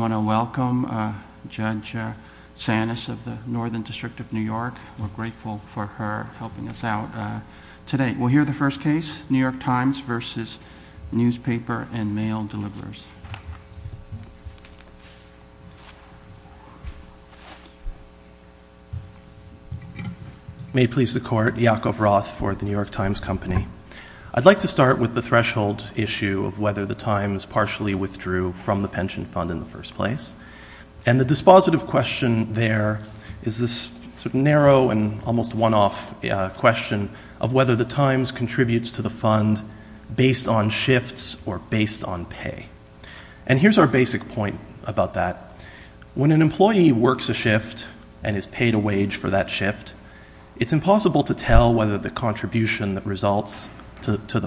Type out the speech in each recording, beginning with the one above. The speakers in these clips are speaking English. We want to welcome Judge Sanis of the Northern District of New York. We're grateful for her helping us out today. We'll hear the first case, New York Times v. Newspaper and Mail Deliverers. May it please the court, Iakov Roth for the New York Times Company. I'd like to start with the threshold issue of whether the Times partially withdrew from the pension fund in the first place. And the dispositive question there is this sort of narrow and almost one-off question of whether the Times contributes to the fund based on shifts or based on pay. And here's our basic point about that. When an employee works a shift and is paid a wage for that shift, it's impossible to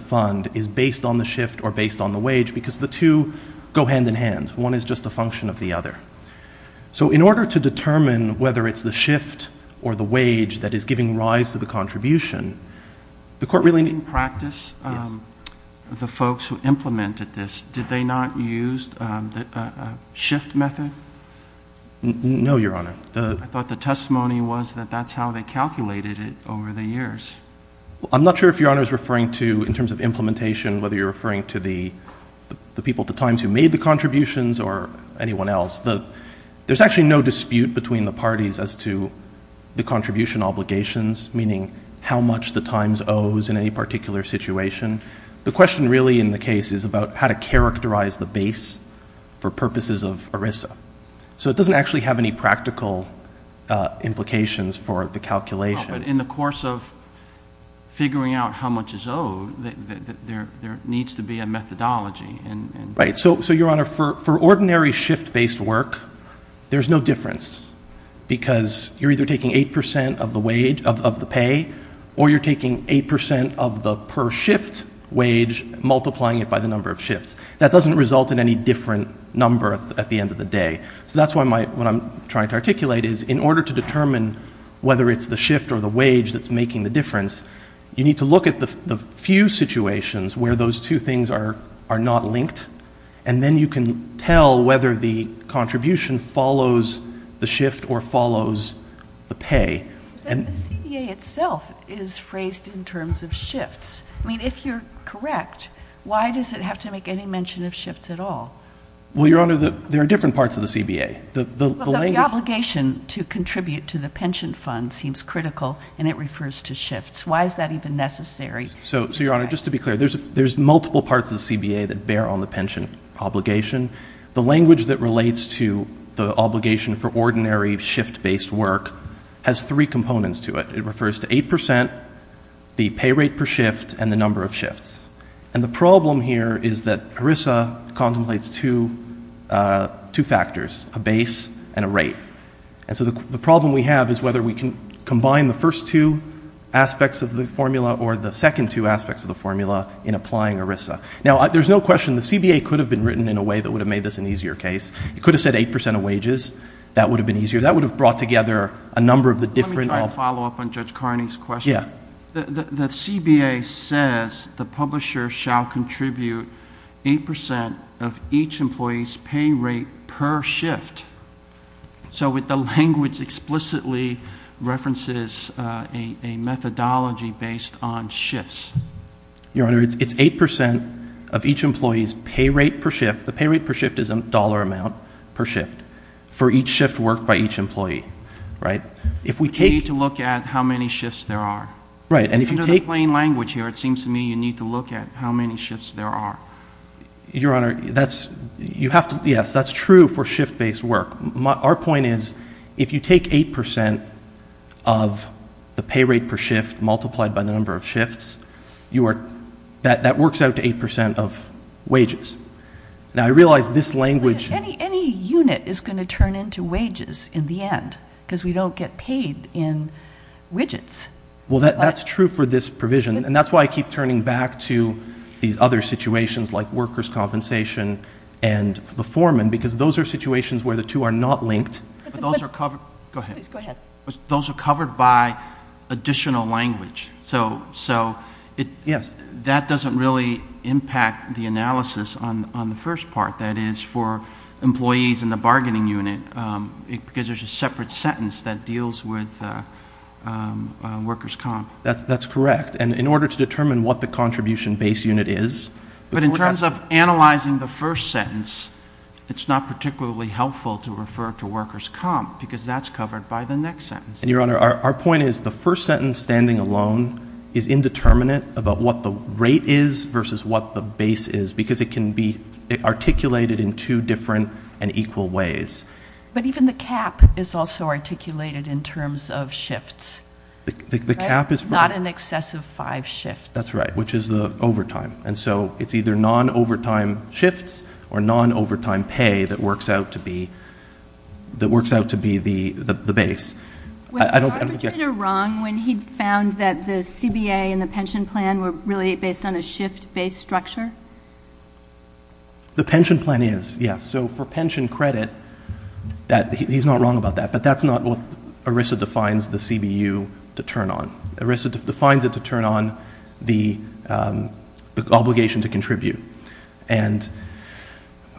fund is based on the shift or based on the wage because the two go hand-in-hand. One is just a function of the other. So in order to determine whether it's the shift or the wage that is giving rise to the contribution, the court really needs to practice the folks who implemented this. Did they not use the shift method? No, Your Honor. I thought the testimony was that that's how they calculated it over the years. I'm not sure if Your Honor is referring to in terms of implementation, whether you're referring to the people at the Times who made the contributions or anyone else. There's actually no dispute between the parties as to the contribution obligations, meaning how much the Times owes in any particular situation. The question really in the case is about how to characterize the base for purposes of ERISA. So it doesn't actually have any practical implications for the calculation. But in the course of figuring out how much is owed, there needs to be a methodology. Right. So Your Honor, for ordinary shift-based work, there's no difference because you're either taking 8% of the wage, of the pay, or you're taking 8% of the per shift wage, multiplying it by the number of shifts. That doesn't result in any different number at the end of the day. So that's what I'm trying to articulate, is in order to determine whether it's the shift or the wage that's making the difference, you need to look at the few situations where those two things are not linked, and then you can tell whether the contribution follows the shift or follows the pay. But the CEA itself is phrased in terms of shifts. I mean, if you're correct, why does it have to make any mention of shifts at all? Well, Your Honor, there are different parts of the CBA. The obligation to contribute to the pension fund seems critical, and it refers to shifts. Why is that even necessary? So Your Honor, just to be clear, there's multiple parts of the CBA that bear on the pension obligation. The language that relates to the obligation for ordinary shift-based work has three components to it. It refers to 8%, the pay rate per shift, and the number of shifts. And the problem here is that ERISA contemplates two factors, a base and a rate. And so the problem we have is whether we can combine the first two aspects of the formula or the second two aspects of the formula in applying ERISA. Now, there's no question the CBA could have been written in a way that would have made this an easier case. It could have said 8% of wages. That would have been easier. That would have brought together a number of the different— Your Honor, it's 8% of each employee's pay rate per shift. The pay rate per shift is a dollar amount per shift for each shift work by each employee. If we take— You need to look at how many shifts there are. Right. And if you take— Under the plain language here, it seems to me you need to look at how many shifts there are. Your Honor, that's—you have to—yes, that's true for shift-based work. Our point is if you take 8% of the pay rate per shift multiplied by the number of shifts, that works out to 8% of wages. Now I realize this language— Any unit is going to turn into wages in the end because we don't get paid in widgets. Well, that's true for this provision, and that's why I keep turning back to these other situations like workers' compensation and the foreman because those are situations where the two are not linked. But those are covered—go ahead. Please, go ahead. Those are covered by additional language, so that doesn't really impact the analysis on the first part, that is for employees in the bargaining unit because there's a separate sentence that deals with workers' comp. That's correct. And in order to determine what the contribution base unit is— But in terms of analyzing the first sentence, it's not particularly helpful to refer to workers' comp because that's covered by the next sentence. And, Your Honor, our point is the first sentence standing alone is indeterminate about what the rate is versus what the base is because it can be articulated in two different and equal ways. But even the cap is also articulated in terms of shifts, right? The cap is— Not in excess of five shifts. That's right, which is the overtime. And so it's either non-overtime shifts or non-overtime pay that works out to be the base. I don't— Was the arbitrator wrong when he found that the CBA and the pension plan were really based on a shift-based structure? The pension plan is, yes. And so for pension credit, he's not wrong about that, but that's not what ERISA defines the CBU to turn on. ERISA defines it to turn on the obligation to contribute. And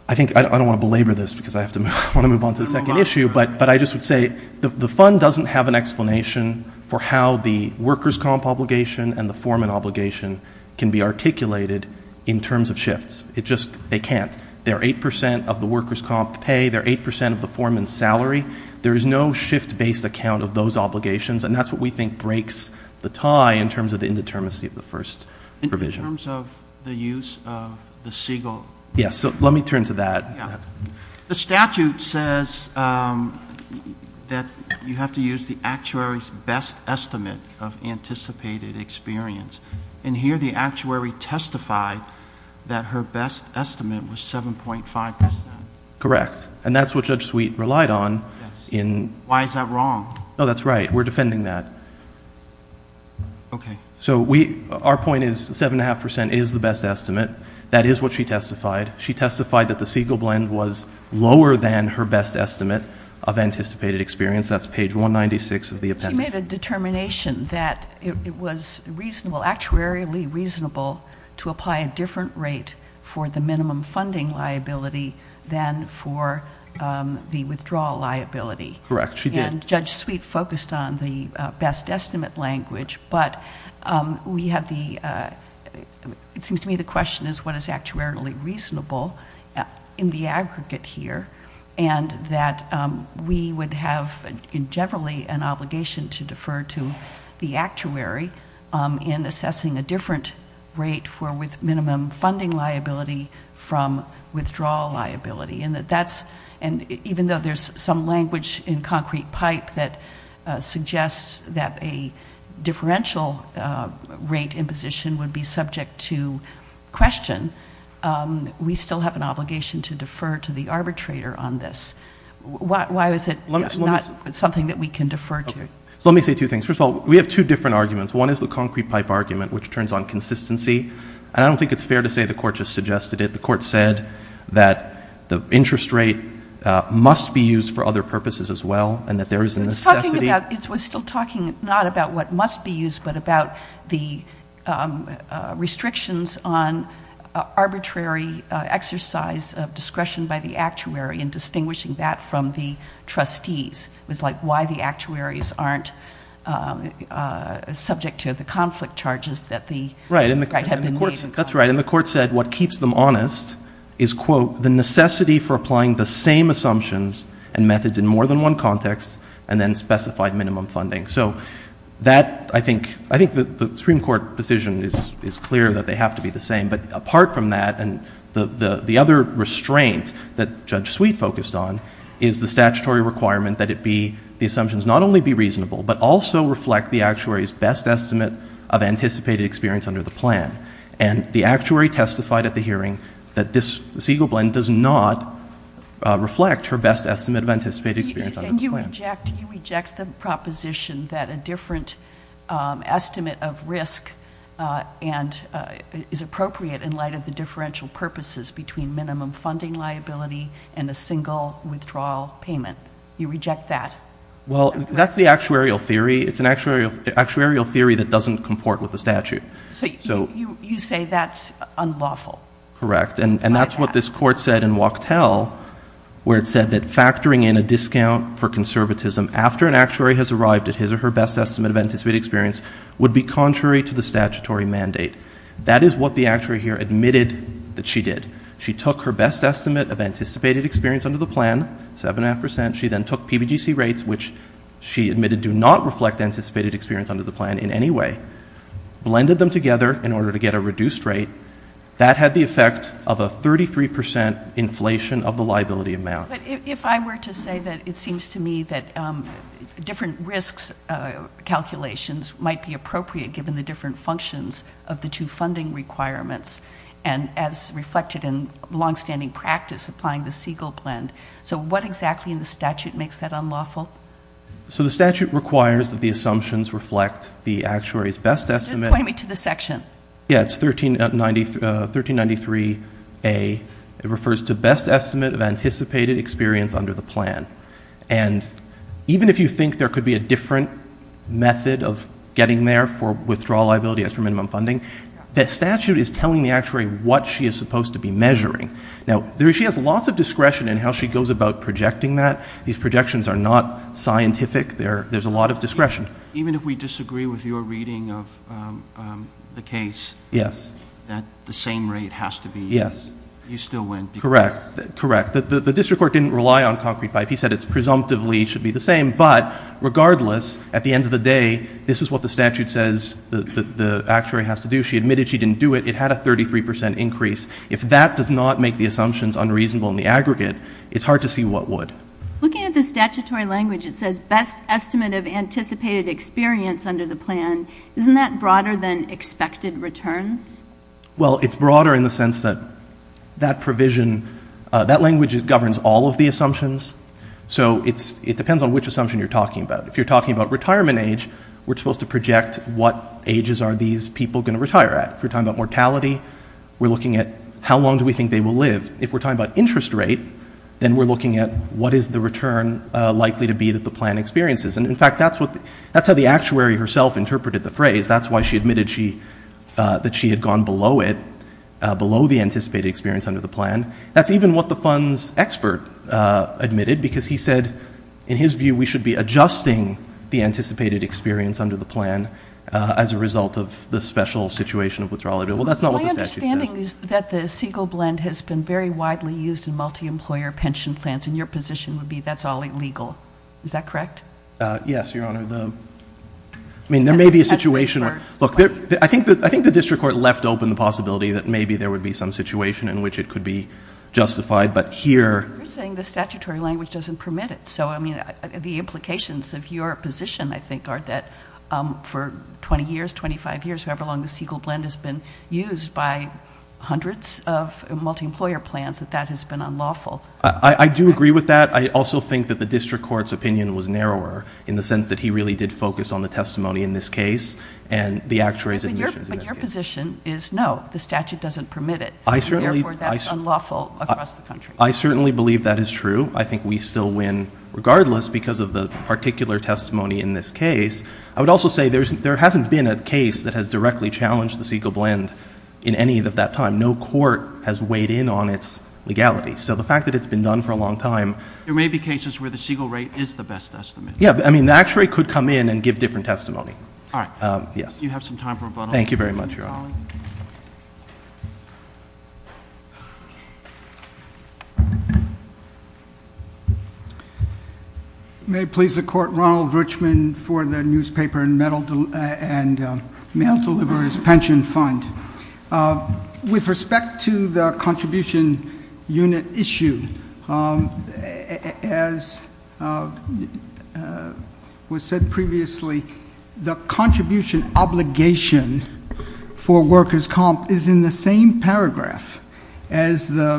I think—I don't want to belabor this because I want to move on to the second issue, but I just would say the fund doesn't have an explanation for how the workers' comp obligation and the foreman obligation can be articulated in terms of shifts. It just—they can't. They're 8% of the workers' comp pay. They're 8% of the foreman's salary. There is no shift-based account of those obligations, and that's what we think breaks the tie in terms of the indeterminacy of the first provision. In terms of the use of the SIGL? Yes. So let me turn to that. Yeah. The statute says that you have to use the actuary's best estimate of anticipated experience. In here, the actuary testified that her best estimate was 7.5%. Correct. And that's what Judge Sweet relied on in... Why is that wrong? No. That's right. We're defending that. Okay. So we—our point is 7.5% is the best estimate. That is what she testified. She testified that the SIGL blend was lower than her best estimate of anticipated experience. That's page 196 of the appendix. She made a determination that it was reasonable—actuarially reasonable to apply a different rate for the minimum funding liability than for the withdrawal liability. Correct. She did. And Judge Sweet focused on the best estimate language, but we have the—it seems to me the question is what is actuarially reasonable in the aggregate here, and that we would have, in generally, an obligation to defer to the actuary in assessing a different rate for with minimum funding liability from withdrawal liability, and that that's—and even though there's some language in concrete pipe that suggests that a differential rate imposition would be subject to question, we still have an obligation to defer to the arbitrator on this. Why was it... It's not something that we can defer to. Okay. So let me say two things. First of all, we have two different arguments. One is the concrete pipe argument, which turns on consistency, and I don't think it's fair to say the Court just suggested it. The Court said that the interest rate must be used for other purposes as well, and that there is a necessity... It's talking about—it was still talking not about what must be used, but about the restrictions on arbitrary exercise of discretion by the actuary, and distinguishing that from the trustees. It was like why the actuaries aren't subject to the conflict charges that the... Right.... have been... That's right. And the Court said what keeps them honest is, quote, the necessity for applying the same assumptions and methods in more than one context, and then specified minimum funding. So that, I think, the Supreme Court decision is clear that they have to be the same. But apart from that, and the other restraint that Judge Sweet focused on, is the statutory requirement that it be—the assumptions not only be reasonable, but also reflect the actuary's best estimate of anticipated experience under the plan. And the actuary testified at the hearing that this Siegel blend does not reflect her best estimate of anticipated experience under the plan. And you reject—you reject the proposition that a different estimate of risk is appropriate in light of the differential purposes between minimum funding liability and a single withdrawal payment. You reject that. Well, that's the actuarial theory. It's an actuarial theory that doesn't comport with the statute. So, you say that's unlawful. Correct. And that's what this Court said in Wachtell, where it said that factoring in a discount for conservatism after an actuary has arrived at his or her best estimate of anticipated experience would be contrary to the statutory mandate. That is what the actuary here admitted that she did. She took her best estimate of anticipated experience under the plan, 7.5 percent. She then took PBGC rates, which she admitted do not reflect anticipated experience under the plan in any way, blended them together in order to get a reduced rate. That had the effect of a 33 percent inflation of the liability amount. But if I were to say that it seems to me that different risks calculations might be appropriate given the different functions of the two funding requirements, and as reflected in longstanding practice applying the Siegel blend. So what exactly in the statute makes that unlawful? So the statute requires that the assumptions reflect the actuary's best estimate. Point me to the section. Yeah. It's 1393A. It refers to best estimate of anticipated experience under the plan. And even if you think there could be a different method of getting there for withdrawal liability as for minimum funding, the statute is telling the actuary what she is supposed to be measuring. Now, she has lots of discretion in how she goes about projecting that. These projections are not scientific. There's a lot of discretion. Even if we disagree with your reading of the case, that the same rate has to be used? Yes. You still win. Correct. Correct. The district court didn't rely on concrete pipe. He said it presumptively should be the same. But regardless, at the end of the day, this is what the statute says the actuary has to do. She admitted she didn't do it. It had a 33 percent increase. If that does not make the assumptions unreasonable in the aggregate, it's hard to see what would. Looking at the statutory language, it says best estimate of anticipated experience under the plan. Isn't that broader than expected returns? Well, it's broader in the sense that that language governs all of the assumptions. So it depends on which assumption you're talking about. If you're talking about retirement age, we're supposed to project what ages are these people going to retire at. If you're talking about mortality, we're looking at how long do we think they will live. If we're talking about interest rate, then we're looking at what is the return likely to be that the plan experiences. And in fact, that's how the actuary herself interpreted the phrase. That's why she admitted that she had gone below it, below the anticipated experience under the plan. That's even what the funds expert admitted, because he said in his view we should be adjusting the anticipated experience under the plan as a result of the special situation of withdrawal. Well, that's not what the statute says. My understanding is that the Siegel blend has been very widely used in multi-employer pension plans, and your position would be that's all illegal. Is that correct? Yes, Your Honor. I mean, there may be a situation where, look, I think the district court left open the possibility that maybe there would be some situation in which it could be justified. But here... You're saying the statutory language doesn't permit it. So I mean, the implications of your position, I think, are that for 20 years, 25 years, however long the Siegel blend has been used by hundreds of multi-employer plans, that that has been unlawful. I do agree with that. I also think that the district court's opinion was narrower in the sense that he really did focus on the testimony in this case and the actuary's admissions in this case. But your position is no, the statute doesn't permit it, and therefore that's unlawful across the country. I certainly believe that is true. I think we still win regardless because of the particular testimony in this case. I would also say there hasn't been a case that has directly challenged the Siegel blend in any of that time. No court has weighed in on its legality. So the fact that it's been done for a long time... There may be cases where the Siegel rate is the best estimate. Yeah. I mean, the actuary could come in and give different testimony. All right. Yes. Do you have some time for rebuttal? Thank you very much, Your Honor. May it please the Court. Ronald Richmond for the Newspaper and Mail Deliverers Pension Fund. With respect to the contribution unit issue, as was said previously, the contribution obligation for workers' comp is in the same paragraph in the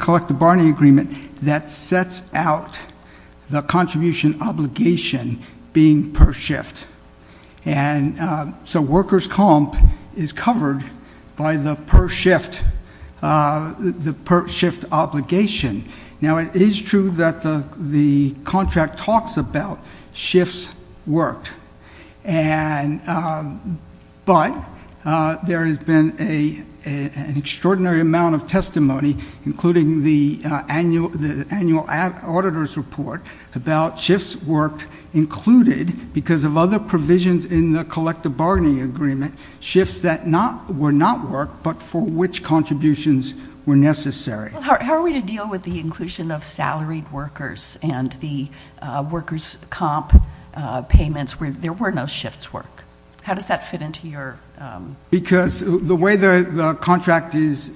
Collective Barney Agreement that sets out the contribution obligation being per shift. And so workers' comp is covered by the per shift obligation. Now it is true that the contract talks about shifts worked, but there has been an extraordinary amount of testimony, including the annual auditor's report about shifts worked included because of other provisions in the Collective Barney Agreement, shifts that were not worked but for which contributions were necessary. How are we to deal with the inclusion of salaried workers and the workers' comp payments where there were no shifts worked? How does that fit into your... Because the way the contract is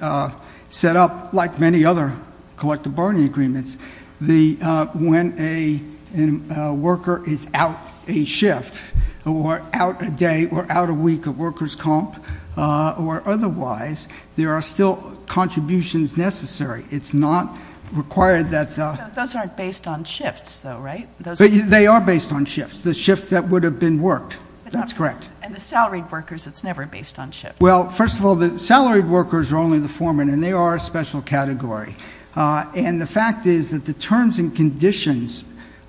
set up, like many other Collective Barney Agreements, when a worker is out a shift or out a day or out a week of workers' comp or otherwise, there are still contributions necessary. It's not required that... Those aren't based on shifts though, right? They are based on shifts, the shifts that would have been worked. That's correct. And the salaried workers, it's never based on shifts. Well, first of all, the salaried workers are only the foremen and they are a special category. And the fact is that the terms and conditions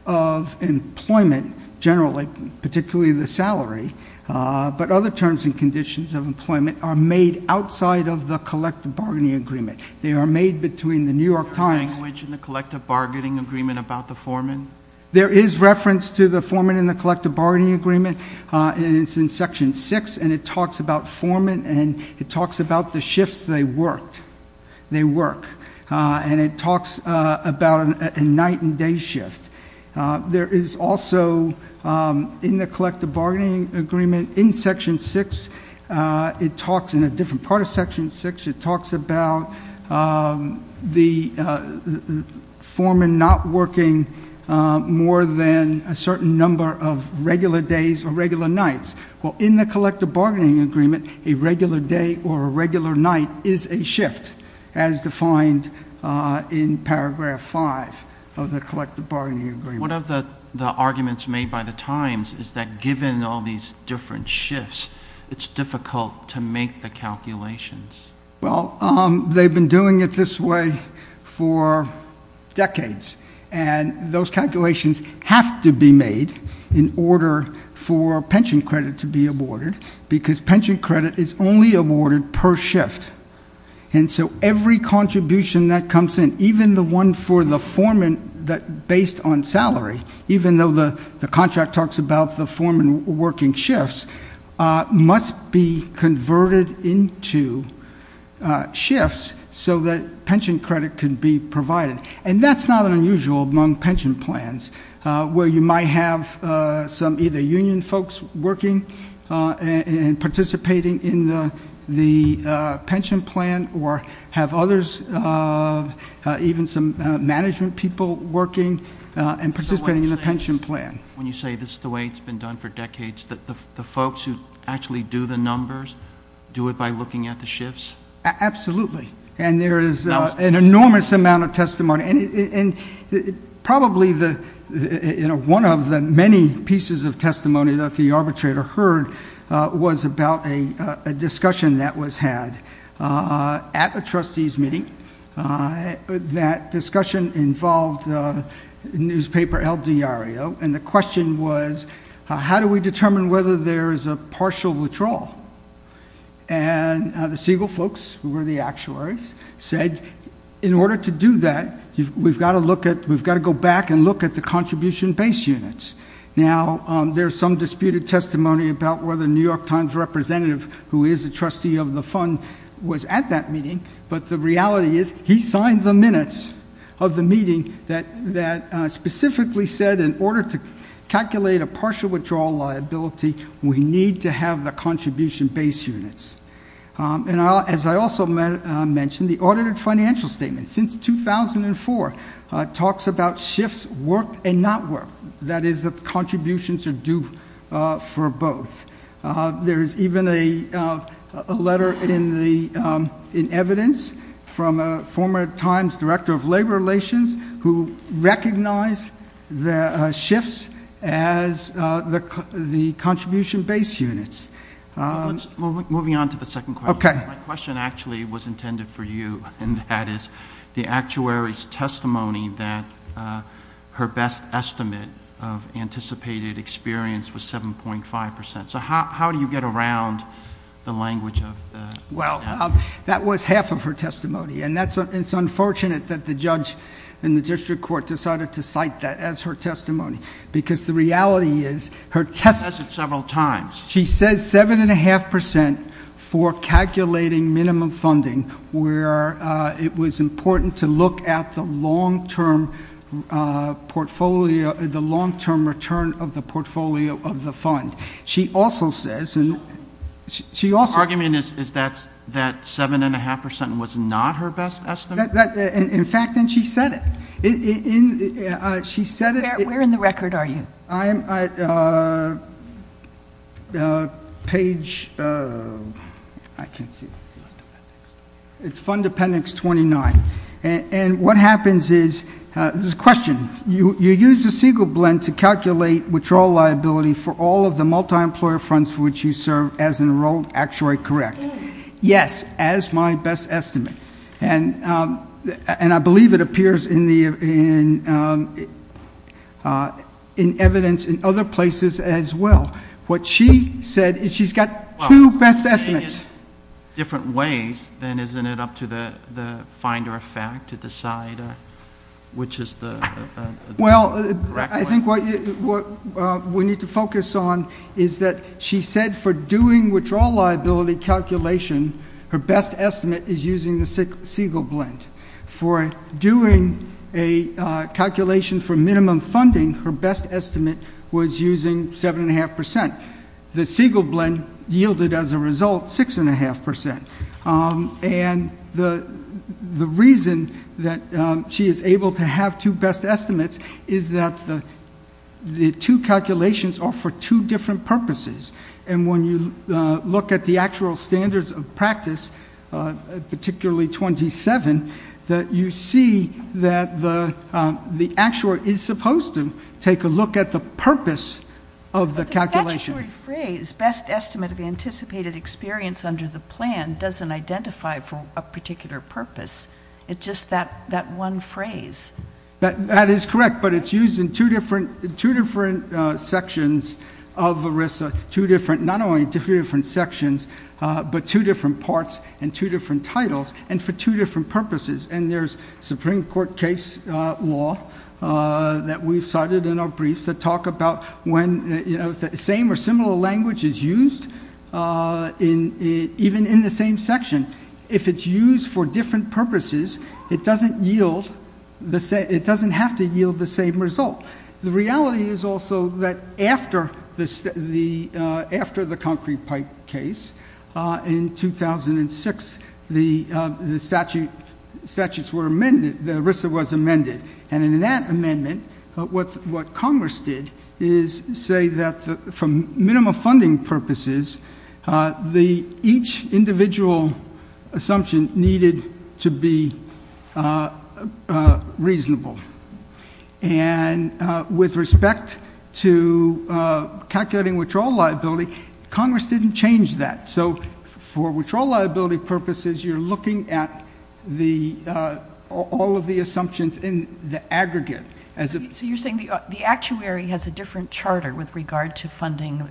of employment generally, particularly the salary, but other terms and conditions of employment are made outside of the Collective Barney Agreement. They are made between the New York Times... The language in the Collective Bargaining Agreement about the foreman? There is reference to the foreman in the Collective Barney Agreement and it's in Section 6 and it talks about foreman and it talks about the shifts they worked. They work. And it talks about a night and day shift. There is also in the Collective Barney Agreement in Section 6, it talks in a different part of Section 6, it talks about the foreman not working more than a certain number of regular days or regular nights. Well, in the Collective Barney Agreement, a regular day or a regular night is a shift as defined in paragraph 5 of the Collective Barney Agreement. One of the arguments made by the Times is that given all these different shifts, it's difficult to make the calculations. Well, they've been doing it this way for decades and those calculations have to be made in order for pension credit to be awarded because pension credit is only awarded per shift. And so every contribution that comes in, even the one for the foreman based on salary, even though the contract talks about the foreman working shifts, must be converted into shifts so that pension credit can be provided. And that's not unusual among pension plans where you might have some either union folks working and participating in the pension plan or have others, even some management people, working and participating in the pension plan. So when you say this is the way it's been done for decades, the folks who actually do the numbers do it by looking at the shifts? Absolutely. And there is an enormous amount of testimony. And probably one of the many pieces of testimony that the arbitrator heard was about a discussion that was had at a trustees meeting. That discussion involved newspaper El Diario and the question was, how do we determine whether there is a partial withdrawal? And the Siegel folks, who were the actuaries, said, in order to do that, we've got to look at, we've got to go back and look at the contribution base units. Now there's some disputed testimony about whether the New York Times representative, who is a trustee of the fund, was at that meeting. But the reality is, he signed the minutes of the meeting that specifically said in order to calculate a partial withdrawal liability, we need to have the contribution base units. And as I also mentioned, the audited financial statement, since 2004, talks about shifts worked and not worked. That is, the contributions are due for both. There's even a letter in evidence from a former Times director of labor relations who recognized the shifts as the contribution base units. Let's move on to the second question. Okay. My question actually was intended for you, and that is, the actuary's testimony that her best estimate of anticipated experience was 7.5%. So how do you get around the language of the... Well, that was half of her testimony, and it's unfortunate that the judge in the district court decided to cite that as her testimony, because the reality is, her... She says it several times. She says 7.5% for calculating minimum funding, where it was important to look at the long-term return of the portfolio of the fund. She also says... Her argument is that 7.5% was not her best estimate? In fact, and she said it. She said it... Where in the record are you? I'm at page... I can't see. It's Fund Appendix 29. And what happens is... This is a question. You use the Siegel blend to calculate withdrawal liability for all of the multi-employer funds for which you serve as an actuary, correct? Yes, as my best estimate. And I believe it appears in evidence in other places as well. What she said is she's got two best estimates. Different ways, then isn't it up to the finder of fact to decide which is the correct way? I think what we need to focus on is that she said for doing withdrawal liability calculation, her best estimate is using the Siegel blend. For doing a calculation for minimum funding, her best estimate was using 7.5%. The Siegel blend yielded, as a result, 6.5%. And the reason that she is able to have two best estimates is that the two calculations are for two different purposes. And when you look at the actual standards of practice, particularly 27, you see that the actuary is supposed to take a look at the purpose of the calculation. But the statutory phrase, best estimate of anticipated experience under the plan, doesn't identify for a particular purpose. It's just that one phrase. That is correct, but it's used in two different sections of ERISA. Not only two different sections, but two different parts and two different titles, and for two different purposes. And there's Supreme Court case law that we've cited in our briefs that talk about when the same or similar language is used, even in the same section. If it's used for different purposes, it doesn't have to yield the same result. The reality is also that after the concrete pipe case in 2006, the ERISA was amended. And in that amendment, what Congress did is say that for minimum funding purposes, each individual assumption needed to be reasonable. And with respect to calculating withdrawal liability, Congress didn't change that. So for withdrawal liability purposes, you're looking at all of the assumptions in the aggregate. So you're saying the actuary has a different charter with regard to funding,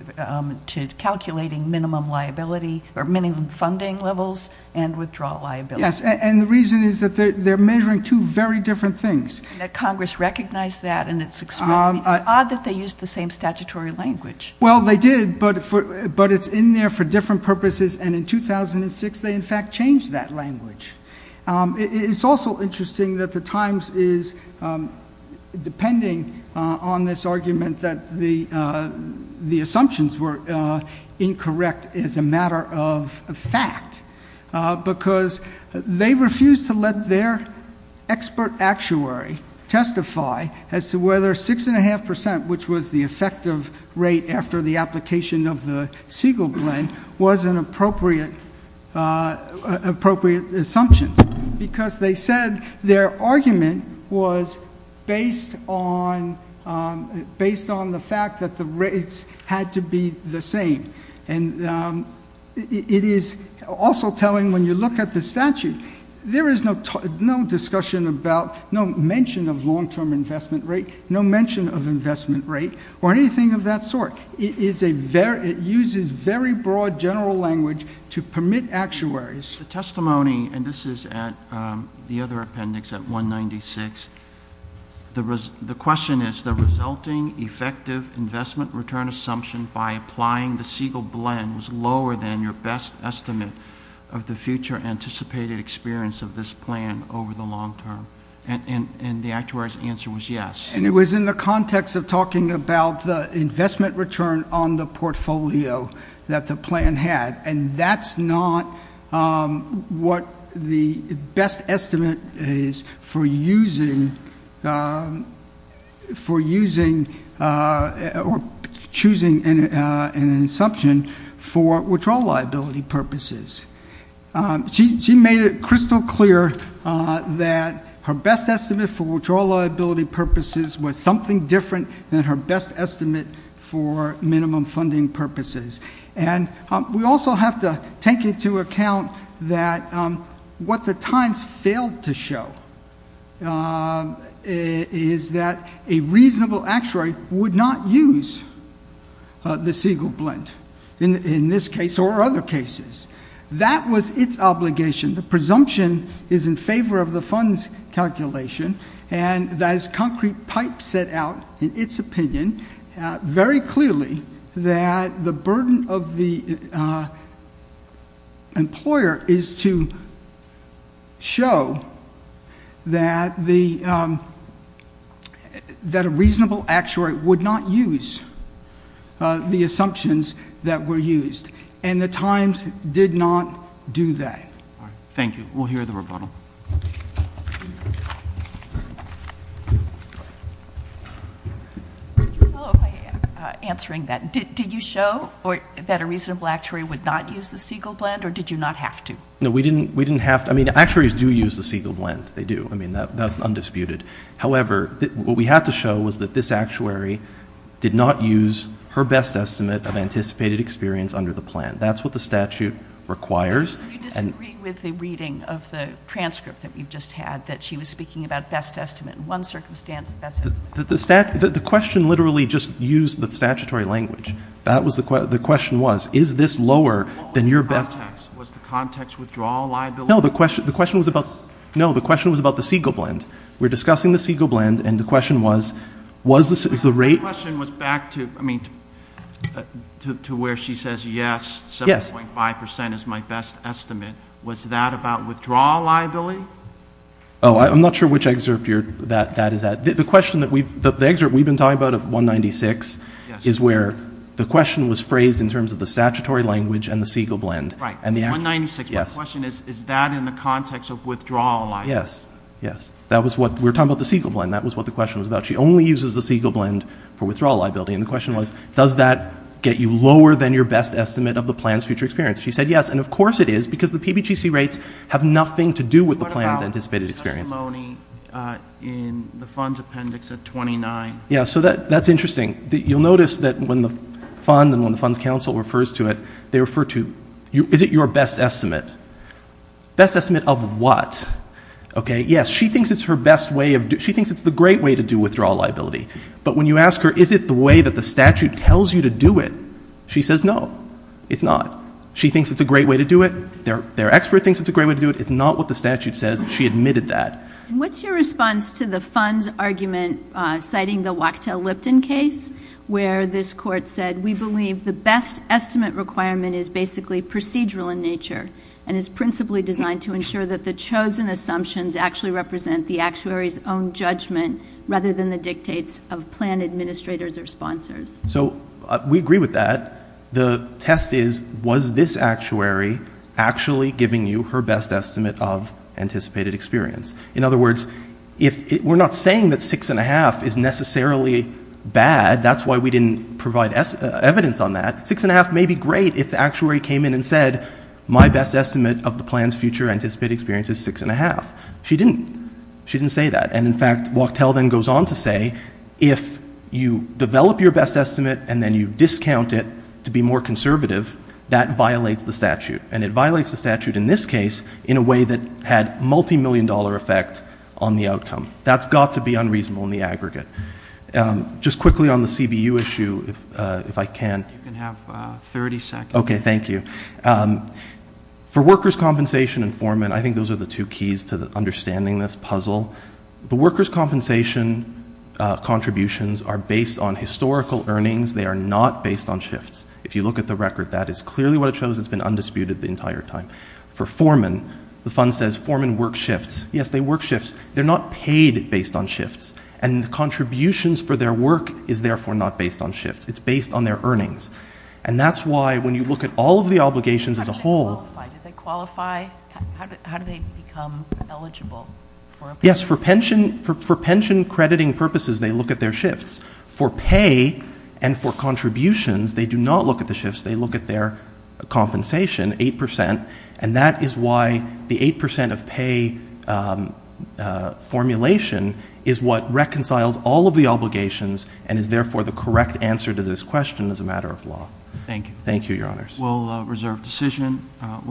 to calculating minimum liability, or minimum funding levels and withdrawal liability. Yes, and the reason is that they're measuring two very different things. That Congress recognized that and it's expected. It's odd that they used the same statutory language. Well, they did, but it's in there for different purposes. And in 2006, they in fact changed that language. It's also interesting that the Times is, depending on this argument, that the assumptions were incorrect as a matter of fact, because they refused to let their expert actuary testify as to whether 6.5%, which was the effective rate after the application of the Siegel blend, was an appropriate assumption. Because they said their argument was based on the fact that the rates had to be the same. And it is also telling, when you look at the statute, there is no discussion about, no mention of long-term investment rate, no mention of investment rate, or anything of that sort. It uses very broad general language to permit actuaries. The testimony, and this is at the other appendix at 196, the question is, the resulting effective investment return assumption by applying the Siegel blend was lower than your best estimate of the future anticipated experience of this plan over the long term. And the actuary's answer was yes. And it was in the context of talking about the investment return on the portfolio that the plan had. And that's not what the best estimate is for using, or choosing an assumption for withdrawal liability purposes. She made it crystal clear that her best estimate for withdrawal liability purposes was something different than her best estimate for minimum funding purposes. And we also have to take into account that what the times failed to show is that a reasonable actuary would not use the Siegel blend. In this case or other cases. That was its obligation. The presumption is in favor of the fund's calculation. And as Concrete Pipe set out in its opinion, very clearly, that the burden of the employer is to show that a reasonable actuary would not use the assumptions that were used. And the times did not do that. Thank you. We'll hear the rebuttal. Answering that, did you show that a reasonable actuary would not use the Siegel blend, or did you not have to? No, we didn't have to. I mean, actuaries do use the Siegel blend. They do. I mean, that's undisputed. However, what we had to show was that this actuary did not use her best estimate of anticipated experience under the plan. That's what the statute requires. Do you disagree with the reading of the transcript that we've just had, that she was speaking about best estimate in one circumstance? The question literally just used the statutory language. That was the question, the question was, is this lower than your best? Was the context withdrawal liability? No, the question was about, no, the question was about the Siegel blend. We're discussing the Siegel blend, and the question was, was the rate- The question was back to, I mean, to where she says, yes, 7.5% is my best estimate. Was that about withdrawal liability? I'm not sure which excerpt that is at. The question that we've, the excerpt we've been talking about of 196 is where the question was phrased in terms of the statutory language and the Siegel blend. Right, 196, my question is, is that in the context of withdrawal liability? Yes, yes, that was what, we were talking about the Siegel blend, that was what the question was about. She only uses the Siegel blend for withdrawal liability, and the question was, does that get you lower than your best estimate of the plan's future experience? She said yes, and of course it is, because the PBGC rates have nothing to do with the plan's anticipated experience. What about testimony in the fund's appendix at 29? Yeah, so that's interesting. You'll notice that when the fund and when the funds council refers to it, they refer to, is it your best estimate? Best estimate of what? Okay, yes, she thinks it's her best way of, she thinks it's the great way to do withdrawal liability. But when you ask her, is it the way that the statute tells you to do it? She says no, it's not. She thinks it's a great way to do it, their expert thinks it's a great way to do it, it's not what the statute says, she admitted that. What's your response to the fund's argument citing the Wachtell-Lipton case? Where this court said, we believe the best estimate requirement is basically procedural in nature, and is principally designed to ensure that the chosen assumptions actually represent the actuary's own judgment, rather than the dictates of plan administrators or sponsors. So, we agree with that. The test is, was this actuary actually giving you her best estimate of anticipated experience? In other words, we're not saying that six and a half is necessarily bad, that's why we didn't provide evidence on that. Six and a half may be great if the actuary came in and said, my best estimate of the plan's future anticipated experience is six and a half. She didn't, she didn't say that. And in fact, Wachtell then goes on to say, if you develop your best estimate and then you discount it to be more conservative, that violates the statute. And it violates the statute in this case, in a way that had multi-million dollar effect on the outcome. That's got to be unreasonable in the aggregate. Just quickly on the CBU issue, if I can. You can have 30 seconds. Okay, thank you. For workers' compensation informant, I think those are the two keys to understanding this puzzle. The workers' compensation contributions are based on historical earnings. They are not based on shifts. If you look at the record, that is clearly what it shows. It's been undisputed the entire time. For foreman, the fund says foreman work shifts. Yes, they work shifts. They're not paid based on shifts. And the contributions for their work is therefore not based on shifts. It's based on their earnings. And that's why when you look at all of the obligations as a whole- How do they qualify? How do they become eligible? Yes, for pension crediting purposes, they look at their shifts. For pay and for contributions, they do not look at the shifts. They look at their compensation, 8%. And that is why the 8% of pay formulation is what reconciles all of the obligations and is therefore the correct answer to this question as a matter of law. Thank you. Thank you, your honors. We'll reserve decision. We'll